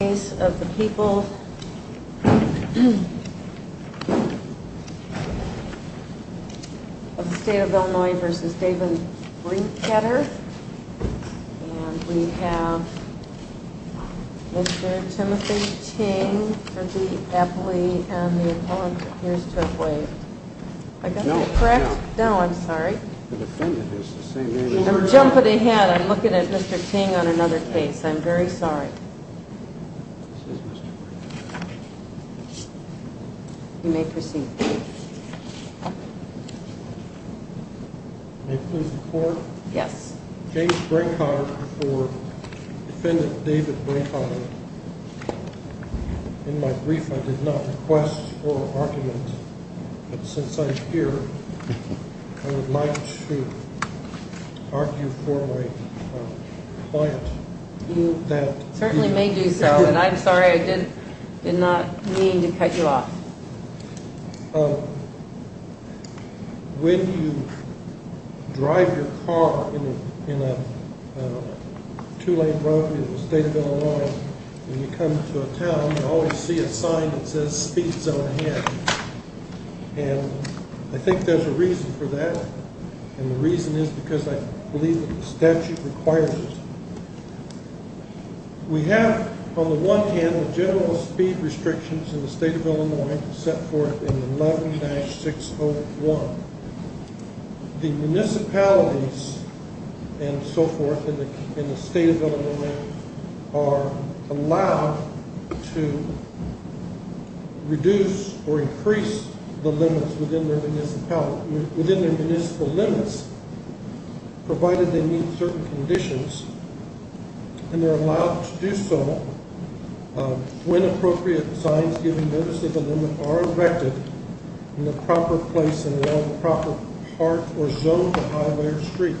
The case of the people of the state of Illinois v. Davin Brinkoetter And we have Mr. Timothy Ting for the appellee and the appellant appears to have waived Am I correct? No, I'm sorry. The defendant is the same age as her. I'm jumping ahead. I'm looking at Mr. Ting on another case. I'm very sorry. You may proceed. May it please the court? Yes. James Brinkoetter v. Defendant David Brinkoetter In my brief, I did not request for argument, but since I'm here, I would like to argue for my client. You certainly may do so, and I'm sorry I did not mean to cut you off. When you drive your car in a two-lane road in the state of Illinois, when you come to a town, you always see a sign that says speed zone ahead. And I think there's a reason for that, and the reason is because I believe that the statute requires it. We have, on the one hand, the general speed restrictions in the state of Illinois set forth in 11-601. The municipalities and so forth in the state of Illinois are allowed to reduce or increase the limits within their municipal limits, provided they meet certain conditions. And they're allowed to do so when appropriate signs giving notice of the limit are erected in the proper place and in the proper part or zone of the highway or street.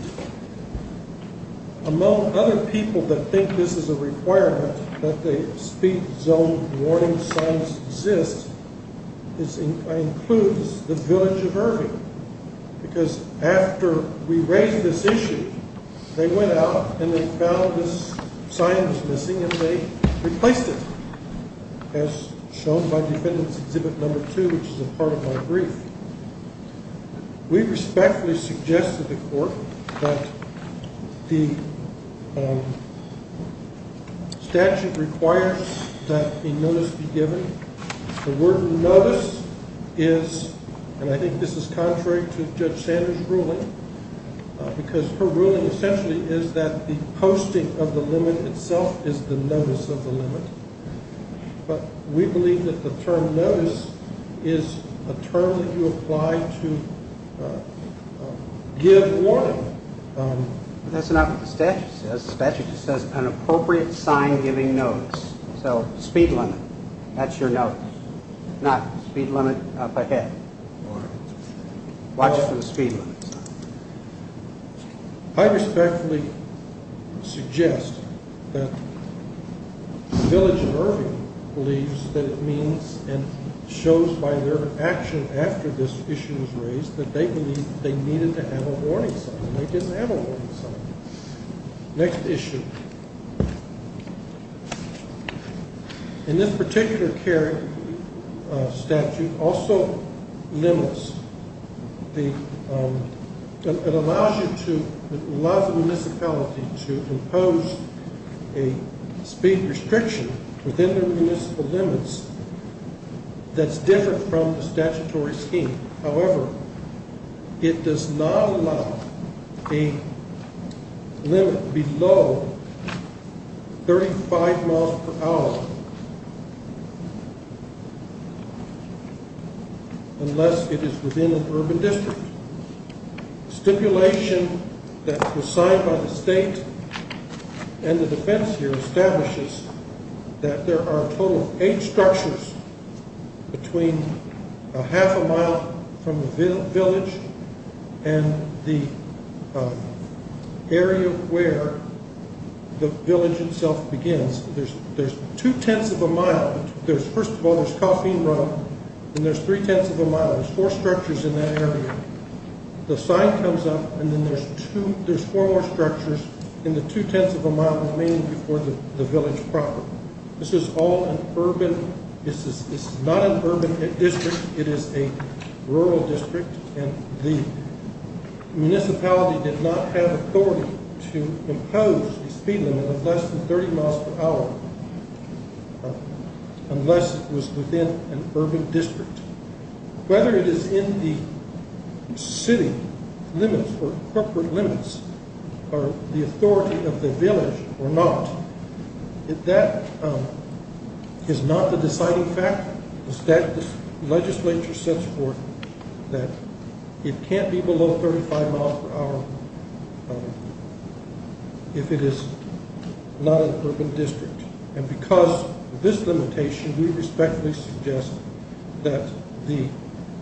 Among other people that think this is a requirement, that the speed zone warning signs exist, includes the village of Irving. Because after we raised this issue, they went out and they found this sign was missing, and they replaced it, as shown by Defendant's Exhibit No. 2, which is a part of my brief. We respectfully suggest to the court that the statute requires that a notice be given. The word notice is, and I think this is contrary to Judge Sanders' ruling, because her ruling essentially is that the posting of the limit itself is the notice of the limit. But we believe that the term notice is a term that you apply to give warning. That's not what the statute says. The statute just says an appropriate sign giving notice. So speed limit, that's your notice. Not speed limit up ahead. Watch for the speed limits. I respectfully suggest that the village of Irving believes that it means, and shows by their action after this issue was raised, that they believe they needed to have a warning sign, and they didn't have a warning sign. Next issue. In this particular statute, also limits. It allows the municipality to impose a speed restriction within their municipal limits that's different from the statutory scheme. However, it does not allow a limit below 35 miles per hour unless it is within an urban district. Stipulation that was signed by the state and the defense here establishes that there are a total of eight structures between a half a mile from the village and the area where the village itself begins. There's two-tenths of a mile. First of all, there's Coffeen Road, and there's three-tenths of a mile. There's four structures in that area. The sign comes up, and then there's four more structures in the two-tenths of a mile remaining before the village proper. This is not an urban district. It is a rural district, and the municipality did not have authority to impose a speed limit of less than 30 miles per hour unless it was within an urban district. Whether it is in the city limits or corporate limits or the authority of the village or not, that is not the deciding factor. The legislature sets forth that it can't be below 35 miles per hour if it is not an urban district. Because of this limitation, we respectfully suggest that the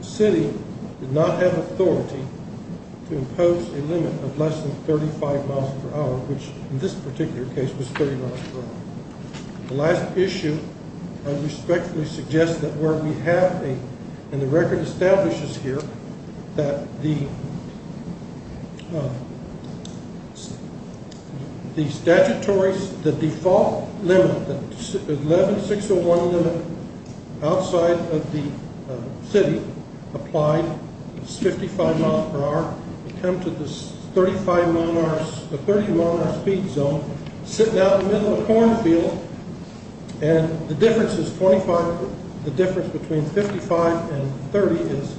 city did not have authority to impose a limit of less than 35 miles per hour, which in this particular case was 30 miles per hour. The last issue, I respectfully suggest that where we have, and the record establishes here, that the statutory, the default limit, the 11-601 limit outside of the city applied is 55 miles per hour. We come to this 30-mile-an-hour speed zone, sitting out in the middle of a cornfield, and the difference between 55 and 30 is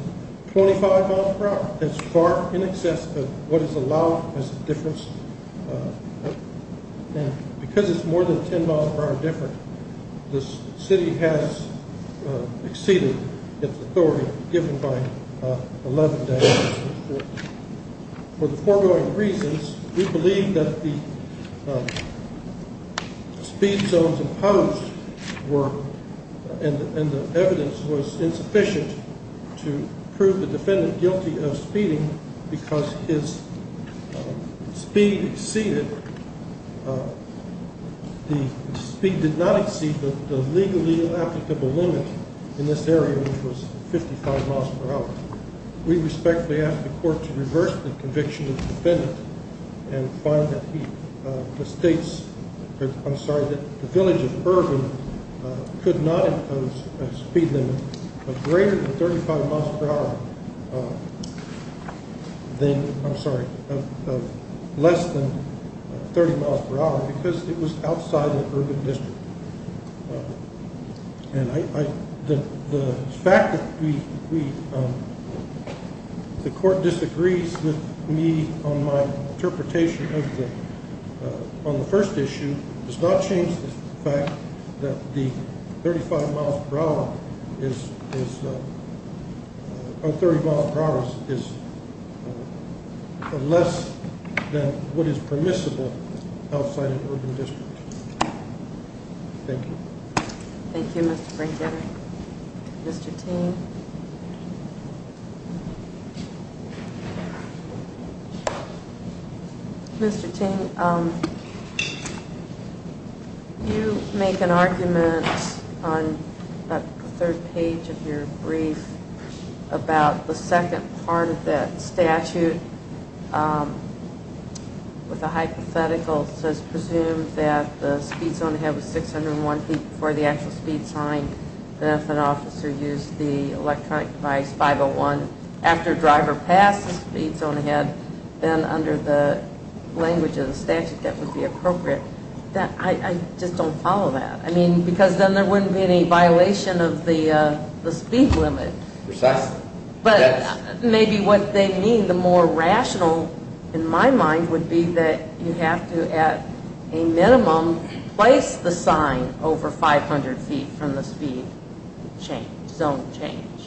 25 miles per hour. That's far in excess of what is allowed as a difference. Because it's more than 10 miles per hour different, the city has exceeded its authority given by 11 days. For the foregoing reasons, we believe that the speed zones imposed were, and the evidence was insufficient to prove the defendant guilty of speeding because his speed limit was less than 30 miles per hour. The speed did not exceed the legally applicable limit in this area, which was 55 miles per hour. We respectfully ask the court to reverse the conviction of the defendant and find that he mistakes, I'm sorry, that the village of Urban could not impose a speed limit of greater than 35 miles per hour than, I'm sorry, of less than 30 miles per hour because it was outside the Urban district. The fact that the court disagrees with me on my interpretation on the first issue does not change the fact that the 35 miles per hour, or 30 miles per hour is less than what is permissible outside of the Urban district. Thank you. Thank you, Mr. Brinkheader. Mr. Ting? Mr. Ting, you make an argument on the third page of your brief about the second part of that statute with a hypothetical. It says, presumed that the speed zone ahead was 601 feet before the actual speed sign, that if an officer used the electronic device 501 after driver passed the speed zone ahead, then under the language of the statute, that would be appropriate. I just don't follow that. I mean, because then there wouldn't be any violation of the speed limit. Precisely. But maybe what they mean, the more rational, in my mind, would be that you have to, at a minimum, place the sign over 500 feet from the speed zone change.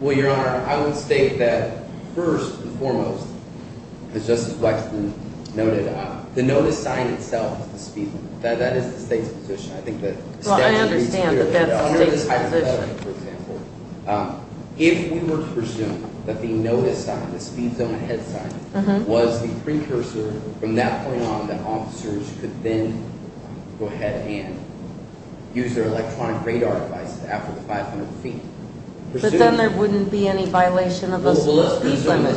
Well, Your Honor, I would state that, first and foremost, as Justice Wexton noted, the notice sign itself is the speed limit. That is the state's position. Well, I understand that that's the state's position. If we were to presume that the notice sign, the speed zone ahead sign, was the precursor, from that point on, that officers could then go ahead and use their electronic radar devices after the 500 feet. But then there wouldn't be any violation of the speed limit.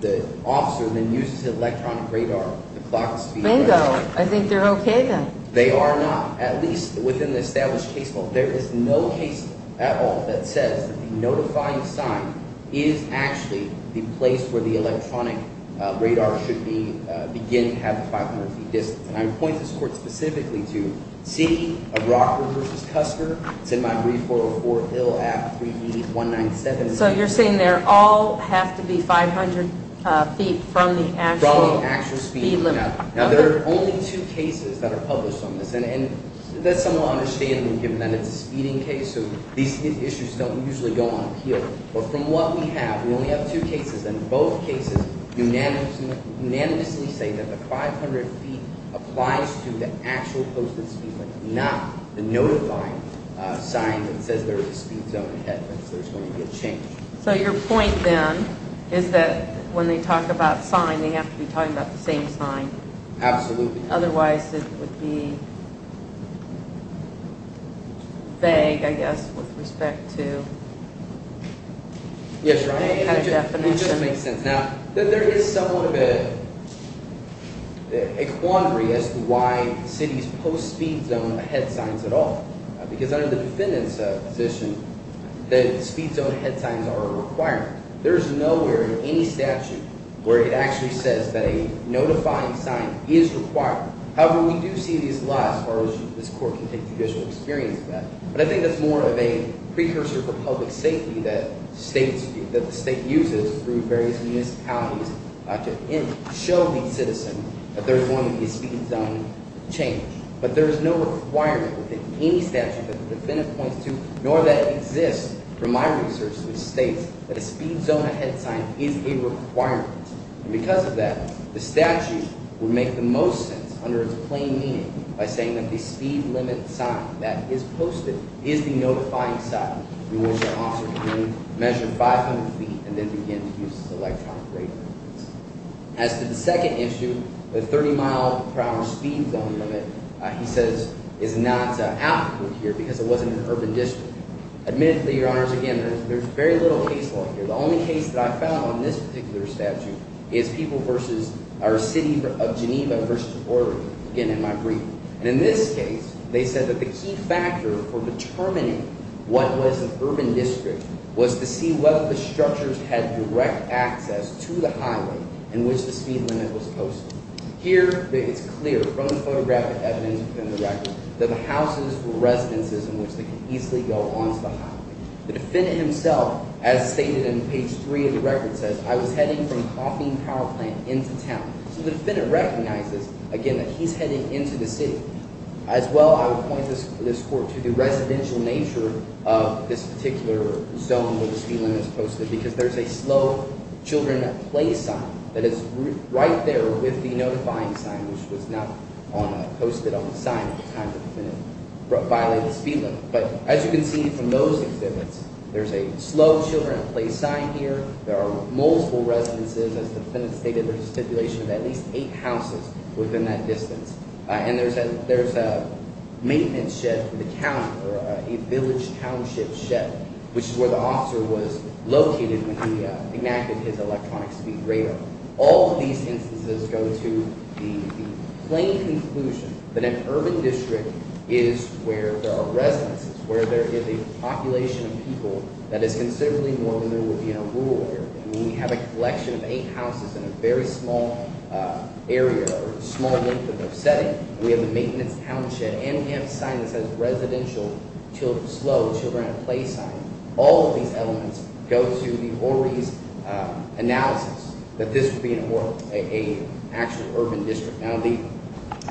The officer then uses electronic radar to clock the speed limit. Bingo. I think they're okay, then. They are not, at least within the established case law. There is no case at all that says that the notifying sign is actually the place where the electronic radar should be beginning to have the 500 feet distance. And I would point this Court specifically to see a Rockford v. Custer. It's in my brief 404 Hill Act 3E197. So you're saying they all have to be 500 feet from the actual speed limit? From the actual speed limit. Now, there are only two cases that are published on this. And that's somewhat understandable, given that it's a speeding case. So these issues don't usually go on appeal. But from what we have, we only have two cases. And both cases unanimously say that the 500 feet applies to the actual posted speed limit, not the notifying sign that says there is a speed zone ahead of it. So there's going to be a change. So your point, then, is that when they talk about sign, they have to be talking about the same sign. Absolutely. Otherwise, it would be vague, I guess, with respect to the kind of definition. It just makes sense. Now, there is somewhat of a quandary as to why cities post speed zone ahead signs at all. Because under the defendant's position, the speed zone ahead signs are a requirement. There is nowhere in any statute where it actually says that a notifying sign is required. However, we do see these a lot as far as this court can take judicial experience of that. But I think that's more of a precursor for public safety that the state uses through various municipalities to show the citizen that there's going to be a speed zone change. But there is no requirement within any statute that the defendant points to, nor that exists from my research, which states that a speed zone ahead sign is a requirement. And because of that, the statute would make the most sense under its plain meaning by saying that the speed limit sign that is posted is the notifying sign through which an officer can measure 500 feet and then begin to use his electronic radar. As to the second issue, the 30-mile per hour speed zone limit, he says, is not applicable here because it wasn't an urban district. Admittedly, Your Honors, again, there's very little case law here. The only case that I found on this particular statute is people versus – or city of Geneva versus Oregon, again, in my brief. And in this case, they said that the key factor for determining what was an urban district was to see whether the structures had direct access to the highway in which the speed limit was posted. Here, it's clear from the photographic evidence within the record that the houses were residences in which they could easily go onto the highway. The defendant himself, as stated in page 3 of the record, says, I was heading from Coffeen Power Plant into town. So the defendant recognizes, again, that he's heading into the city. As well, I would point this court to the residential nature of this particular zone where the speed limit is posted because there's a slow children play sign that is right there with the notifying sign, which was not posted on the sign at the time the defendant violated the speed limit. But as you can see from those exhibits, there's a slow children play sign here. There are multiple residences. As the defendant stated, there's a stipulation of at least eight houses within that distance. And there's a maintenance shed for the county or a village township shed, which is where the officer was located when he enacted his electronic speed radar. All of these instances go to the plain conclusion that an urban district is where there are residences, where there is a population of people that is considerably more than there would be in a rural area. And we have a collection of eight houses in a very small area or a small length of setting. We have a maintenance townshed, and we have a sign that says residential, slow children play sign. All of these elements go to the Orry's analysis that this would be an actual urban district. Now,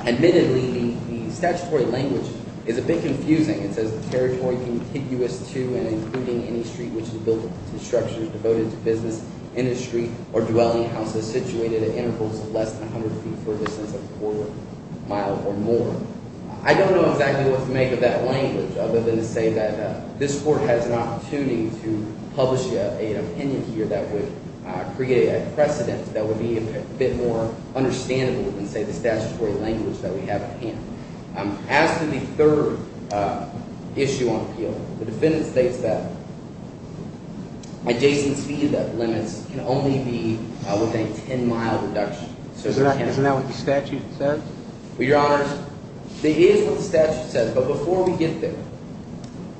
admittedly, the statutory language is a bit confusing. It says the territory contiguous to and including any street which is built to structures devoted to business, industry, or dwelling houses situated at intervals of less than 100 feet furthest and a quarter mile or more. I don't know exactly what to make of that language other than to say that this court has an opportunity to publish an opinion here that would create a precedent that would be a bit more understandable than, say, the statutory language that we have at hand. As to the third issue on appeal, the defendant states that adjacent speed limits can only be within a 10-mile reduction. Isn't that what the statute says? Well, Your Honor, it is what the statute says. But before we get there,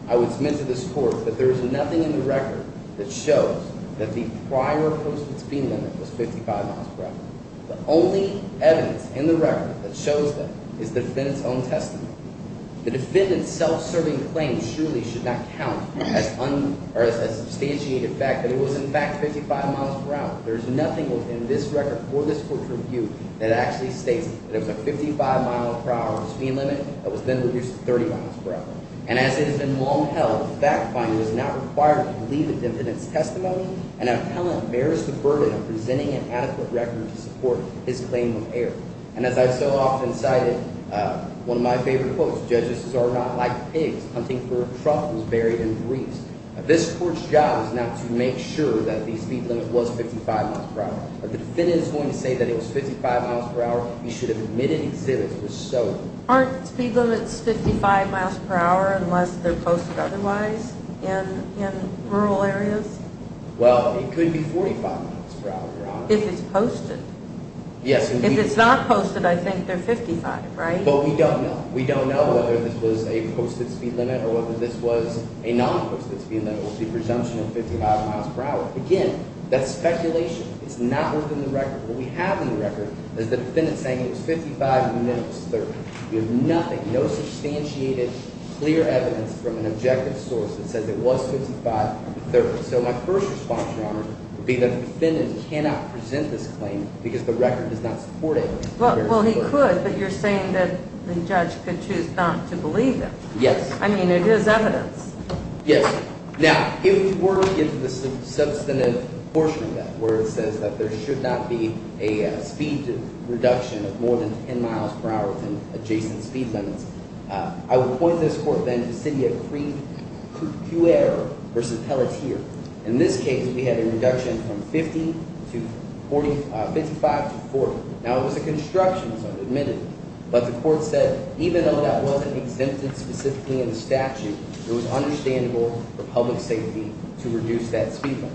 I would submit to this court that there is nothing in the record that shows that the prior posted speed limit was 55 miles per hour. The only evidence in the record that shows that is the defendant's own testimony. The defendant's self-serving claim surely should not count as substantiated fact that it was in fact 55 miles per hour. There is nothing within this record for this court's review that actually states that it was a 55-mile-per-hour speed limit that was then reduced to 30 miles per hour. And as it has been long held, the fact finding was not required to believe the defendant's testimony, and appellant bears the burden of presenting an adequate record to support his claim of error. And as I've so often cited, one of my favorite quotes, judges are not like pigs hunting for truffles buried in grease. This court's job is now to make sure that the speed limit was 55 miles per hour. If the defendant is going to say that it was 55 miles per hour, he should have admitted he said it was so. Aren't speed limits 55 miles per hour unless they're posted otherwise in rural areas? Well, it could be 45 miles per hour, Your Honor. If it's posted? Yes, indeed. If it's not posted, I think they're 55, right? But we don't know. We don't know whether this was a posted speed limit or whether this was a non-posted speed limit with the presumption of 55 miles per hour. Again, that's speculation. It's not within the record. What we have in the record is the defendant saying it was 55 and admitted it was 30. We have nothing, no substantiated, clear evidence from an objective source that says it was 55 and 30. So my first response, Your Honor, would be that the defendant cannot present this claim because the record does not support it. Well, he could, but you're saying that the judge could choose not to believe it. Yes. I mean, it is evidence. Yes. Now, if the court gives the substantive portion of that where it says that there should not be a speed reduction of more than 10 miles per hour with an adjacent speed limit, I would point this court then to Sydney accrued error versus Pelletier. In this case, we had a reduction from 55 to 40. Now, it was a construction zone, admittedly, but the court said even though that wasn't exempted specifically in the statute, it was understandable for public safety to reduce that speed limit.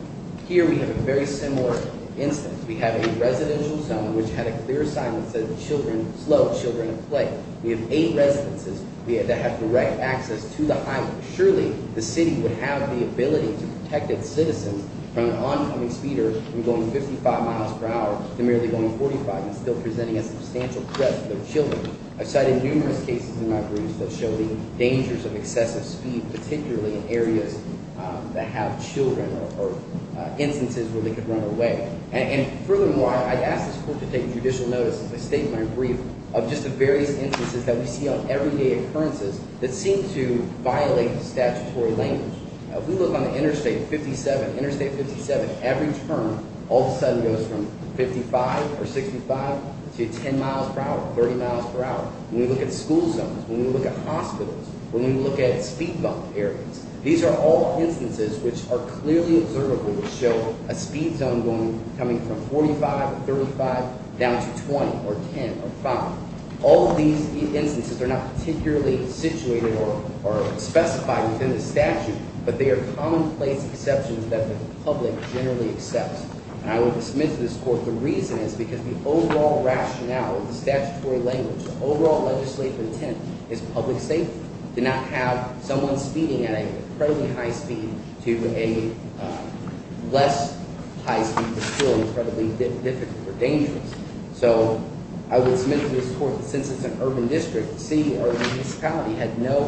Here we have a very similar instance. We have a residential zone which had a clear sign that said slow children in play. We have eight residences. We had to have direct access to the highway. Surely, the city would have the ability to protect its citizens from an oncoming speeder from going 55 miles per hour to merely going 45 and still presenting a substantial threat to their children. I've cited numerous cases in my briefs that show the dangers of excessive speed, particularly in areas that have children or instances where they could run away. And furthermore, I ask this court to take judicial notice as I state in my brief of just the various instances that we see on everyday occurrences that seem to violate the statutory language. If we look on the interstate 57, interstate 57, every turn all of a sudden goes from 55 or 65 to 10 miles per hour, 30 miles per hour. When we look at school zones, when we look at hospitals, when we look at speed bump areas, these are all instances which are clearly observable to show a speed zone coming from 45 to 35 down to 20 or 10 or 5. All of these instances are not particularly situated or specified within the statute, but they are commonplace exceptions that the public generally accepts. And I would dismiss this court. The reason is because the overall rationale, the statutory language, the overall legislative intent is public safety. To not have someone speeding at an incredibly high speed to a less high speed is still incredibly difficult or dangerous. So I would submit to this court that since it's an urban district, the city or municipality had no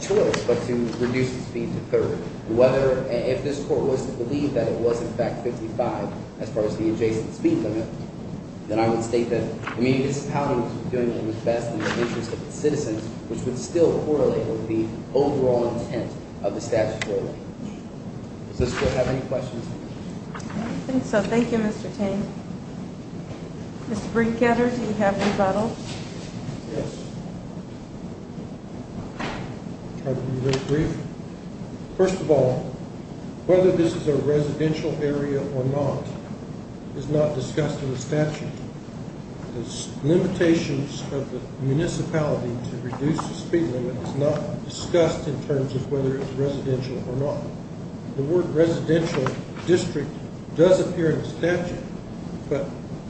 choice but to reduce the speed to 30. Whether, if this court was to believe that it was in fact 55 as far as the adjacent speed limit, then I would state that the municipality was doing what was best in the interest of its citizens, which would still correlate with the overall intent of the statutory language. Does this court have any questions? I don't think so. Thank you, Mr. Ting. Mr. Breencatter, do you have rebuttals? Yes. I'll try to be very brief. First of all, whether this is a residential area or not is not discussed in the statute. The limitations of the municipality to reduce the speed limit is not discussed in terms of whether it's residential or not. The word residential district does appear in the statute, but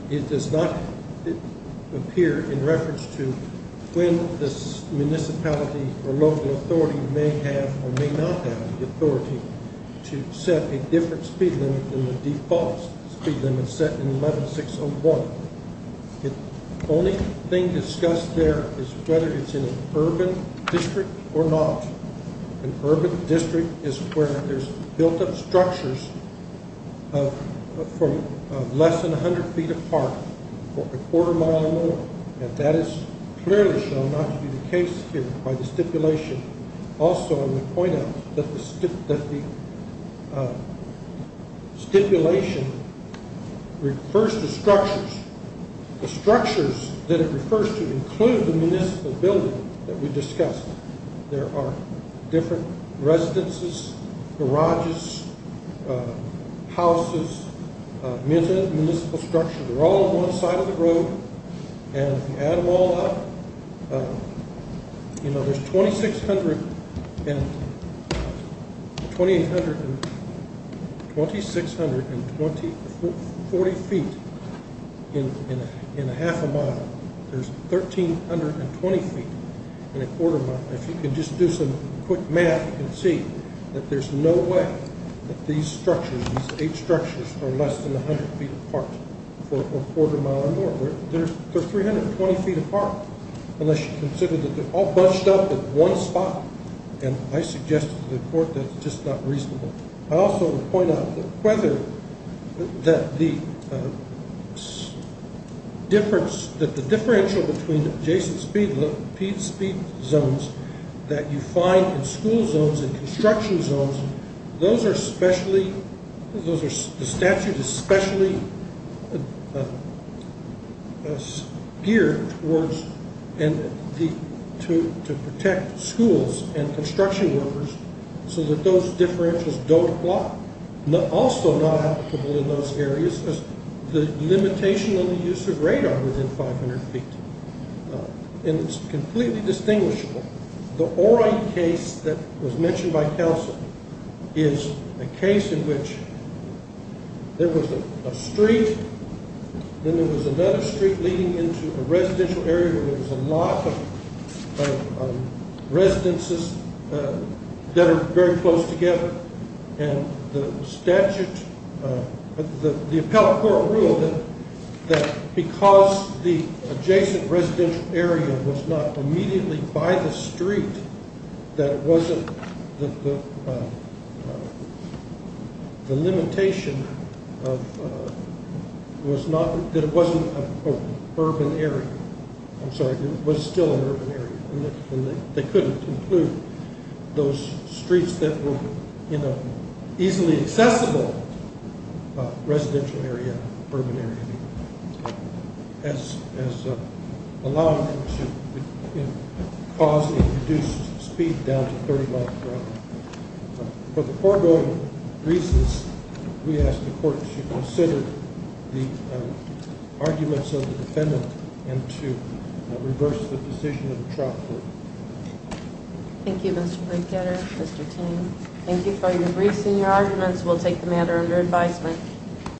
it does not appear in reference to when this municipality or local authority may have or may not have the authority to set a different speed limit than the default speed limit set in 11601. The only thing discussed there is whether it's in an urban district or not. An urban district is where there's built up structures from less than 100 feet apart for a quarter mile or more, and that is clearly shown not to be the case here by the stipulation. Also, I would point out that the stipulation refers to structures. The structures that it refers to include the municipal building that we discussed. There are different residences, garages, houses, municipal structures. They're all on one side of the road, and if you add them all up, there's 2,640 feet in a half a mile. There's 1,320 feet in a quarter mile. If you can just do some quick math, you can see that there's no way that these structures, these eight structures are less than 100 feet apart for a quarter mile or more. They're 320 feet apart unless you consider that they're all bunched up in one spot, and I suggest to the court that it's just not reasonable. I also would point out that the differential between the adjacent speed zones that you find in school zones and construction zones, the statute is specially geared to protect schools and construction workers so that those differentials don't block. Also not applicable in those areas is the limitation on the use of radar within 500 feet, and it's completely distinguishable. The Orange case that was mentioned by counsel is a case in which there was a street, then there was another street leading into a residential area where there was a lot of residences that are very close together, and the appellate court ruled that because the adjacent residential area was not immediately by the street, that it wasn't an urban area. I'm sorry, it was still an urban area, and they couldn't include those streets that were in an easily accessible residential area, urban area, as allowing them to cause a reduced speed down to 30 miles per hour. For the foregoing reasons, we ask the court to consider the arguments of the defendant and to reverse the decision of the trial court. Thank you, Mr. Brickgetter, Mr. Teague. Thank you for your briefs and your arguments. We'll take the matter under advisement.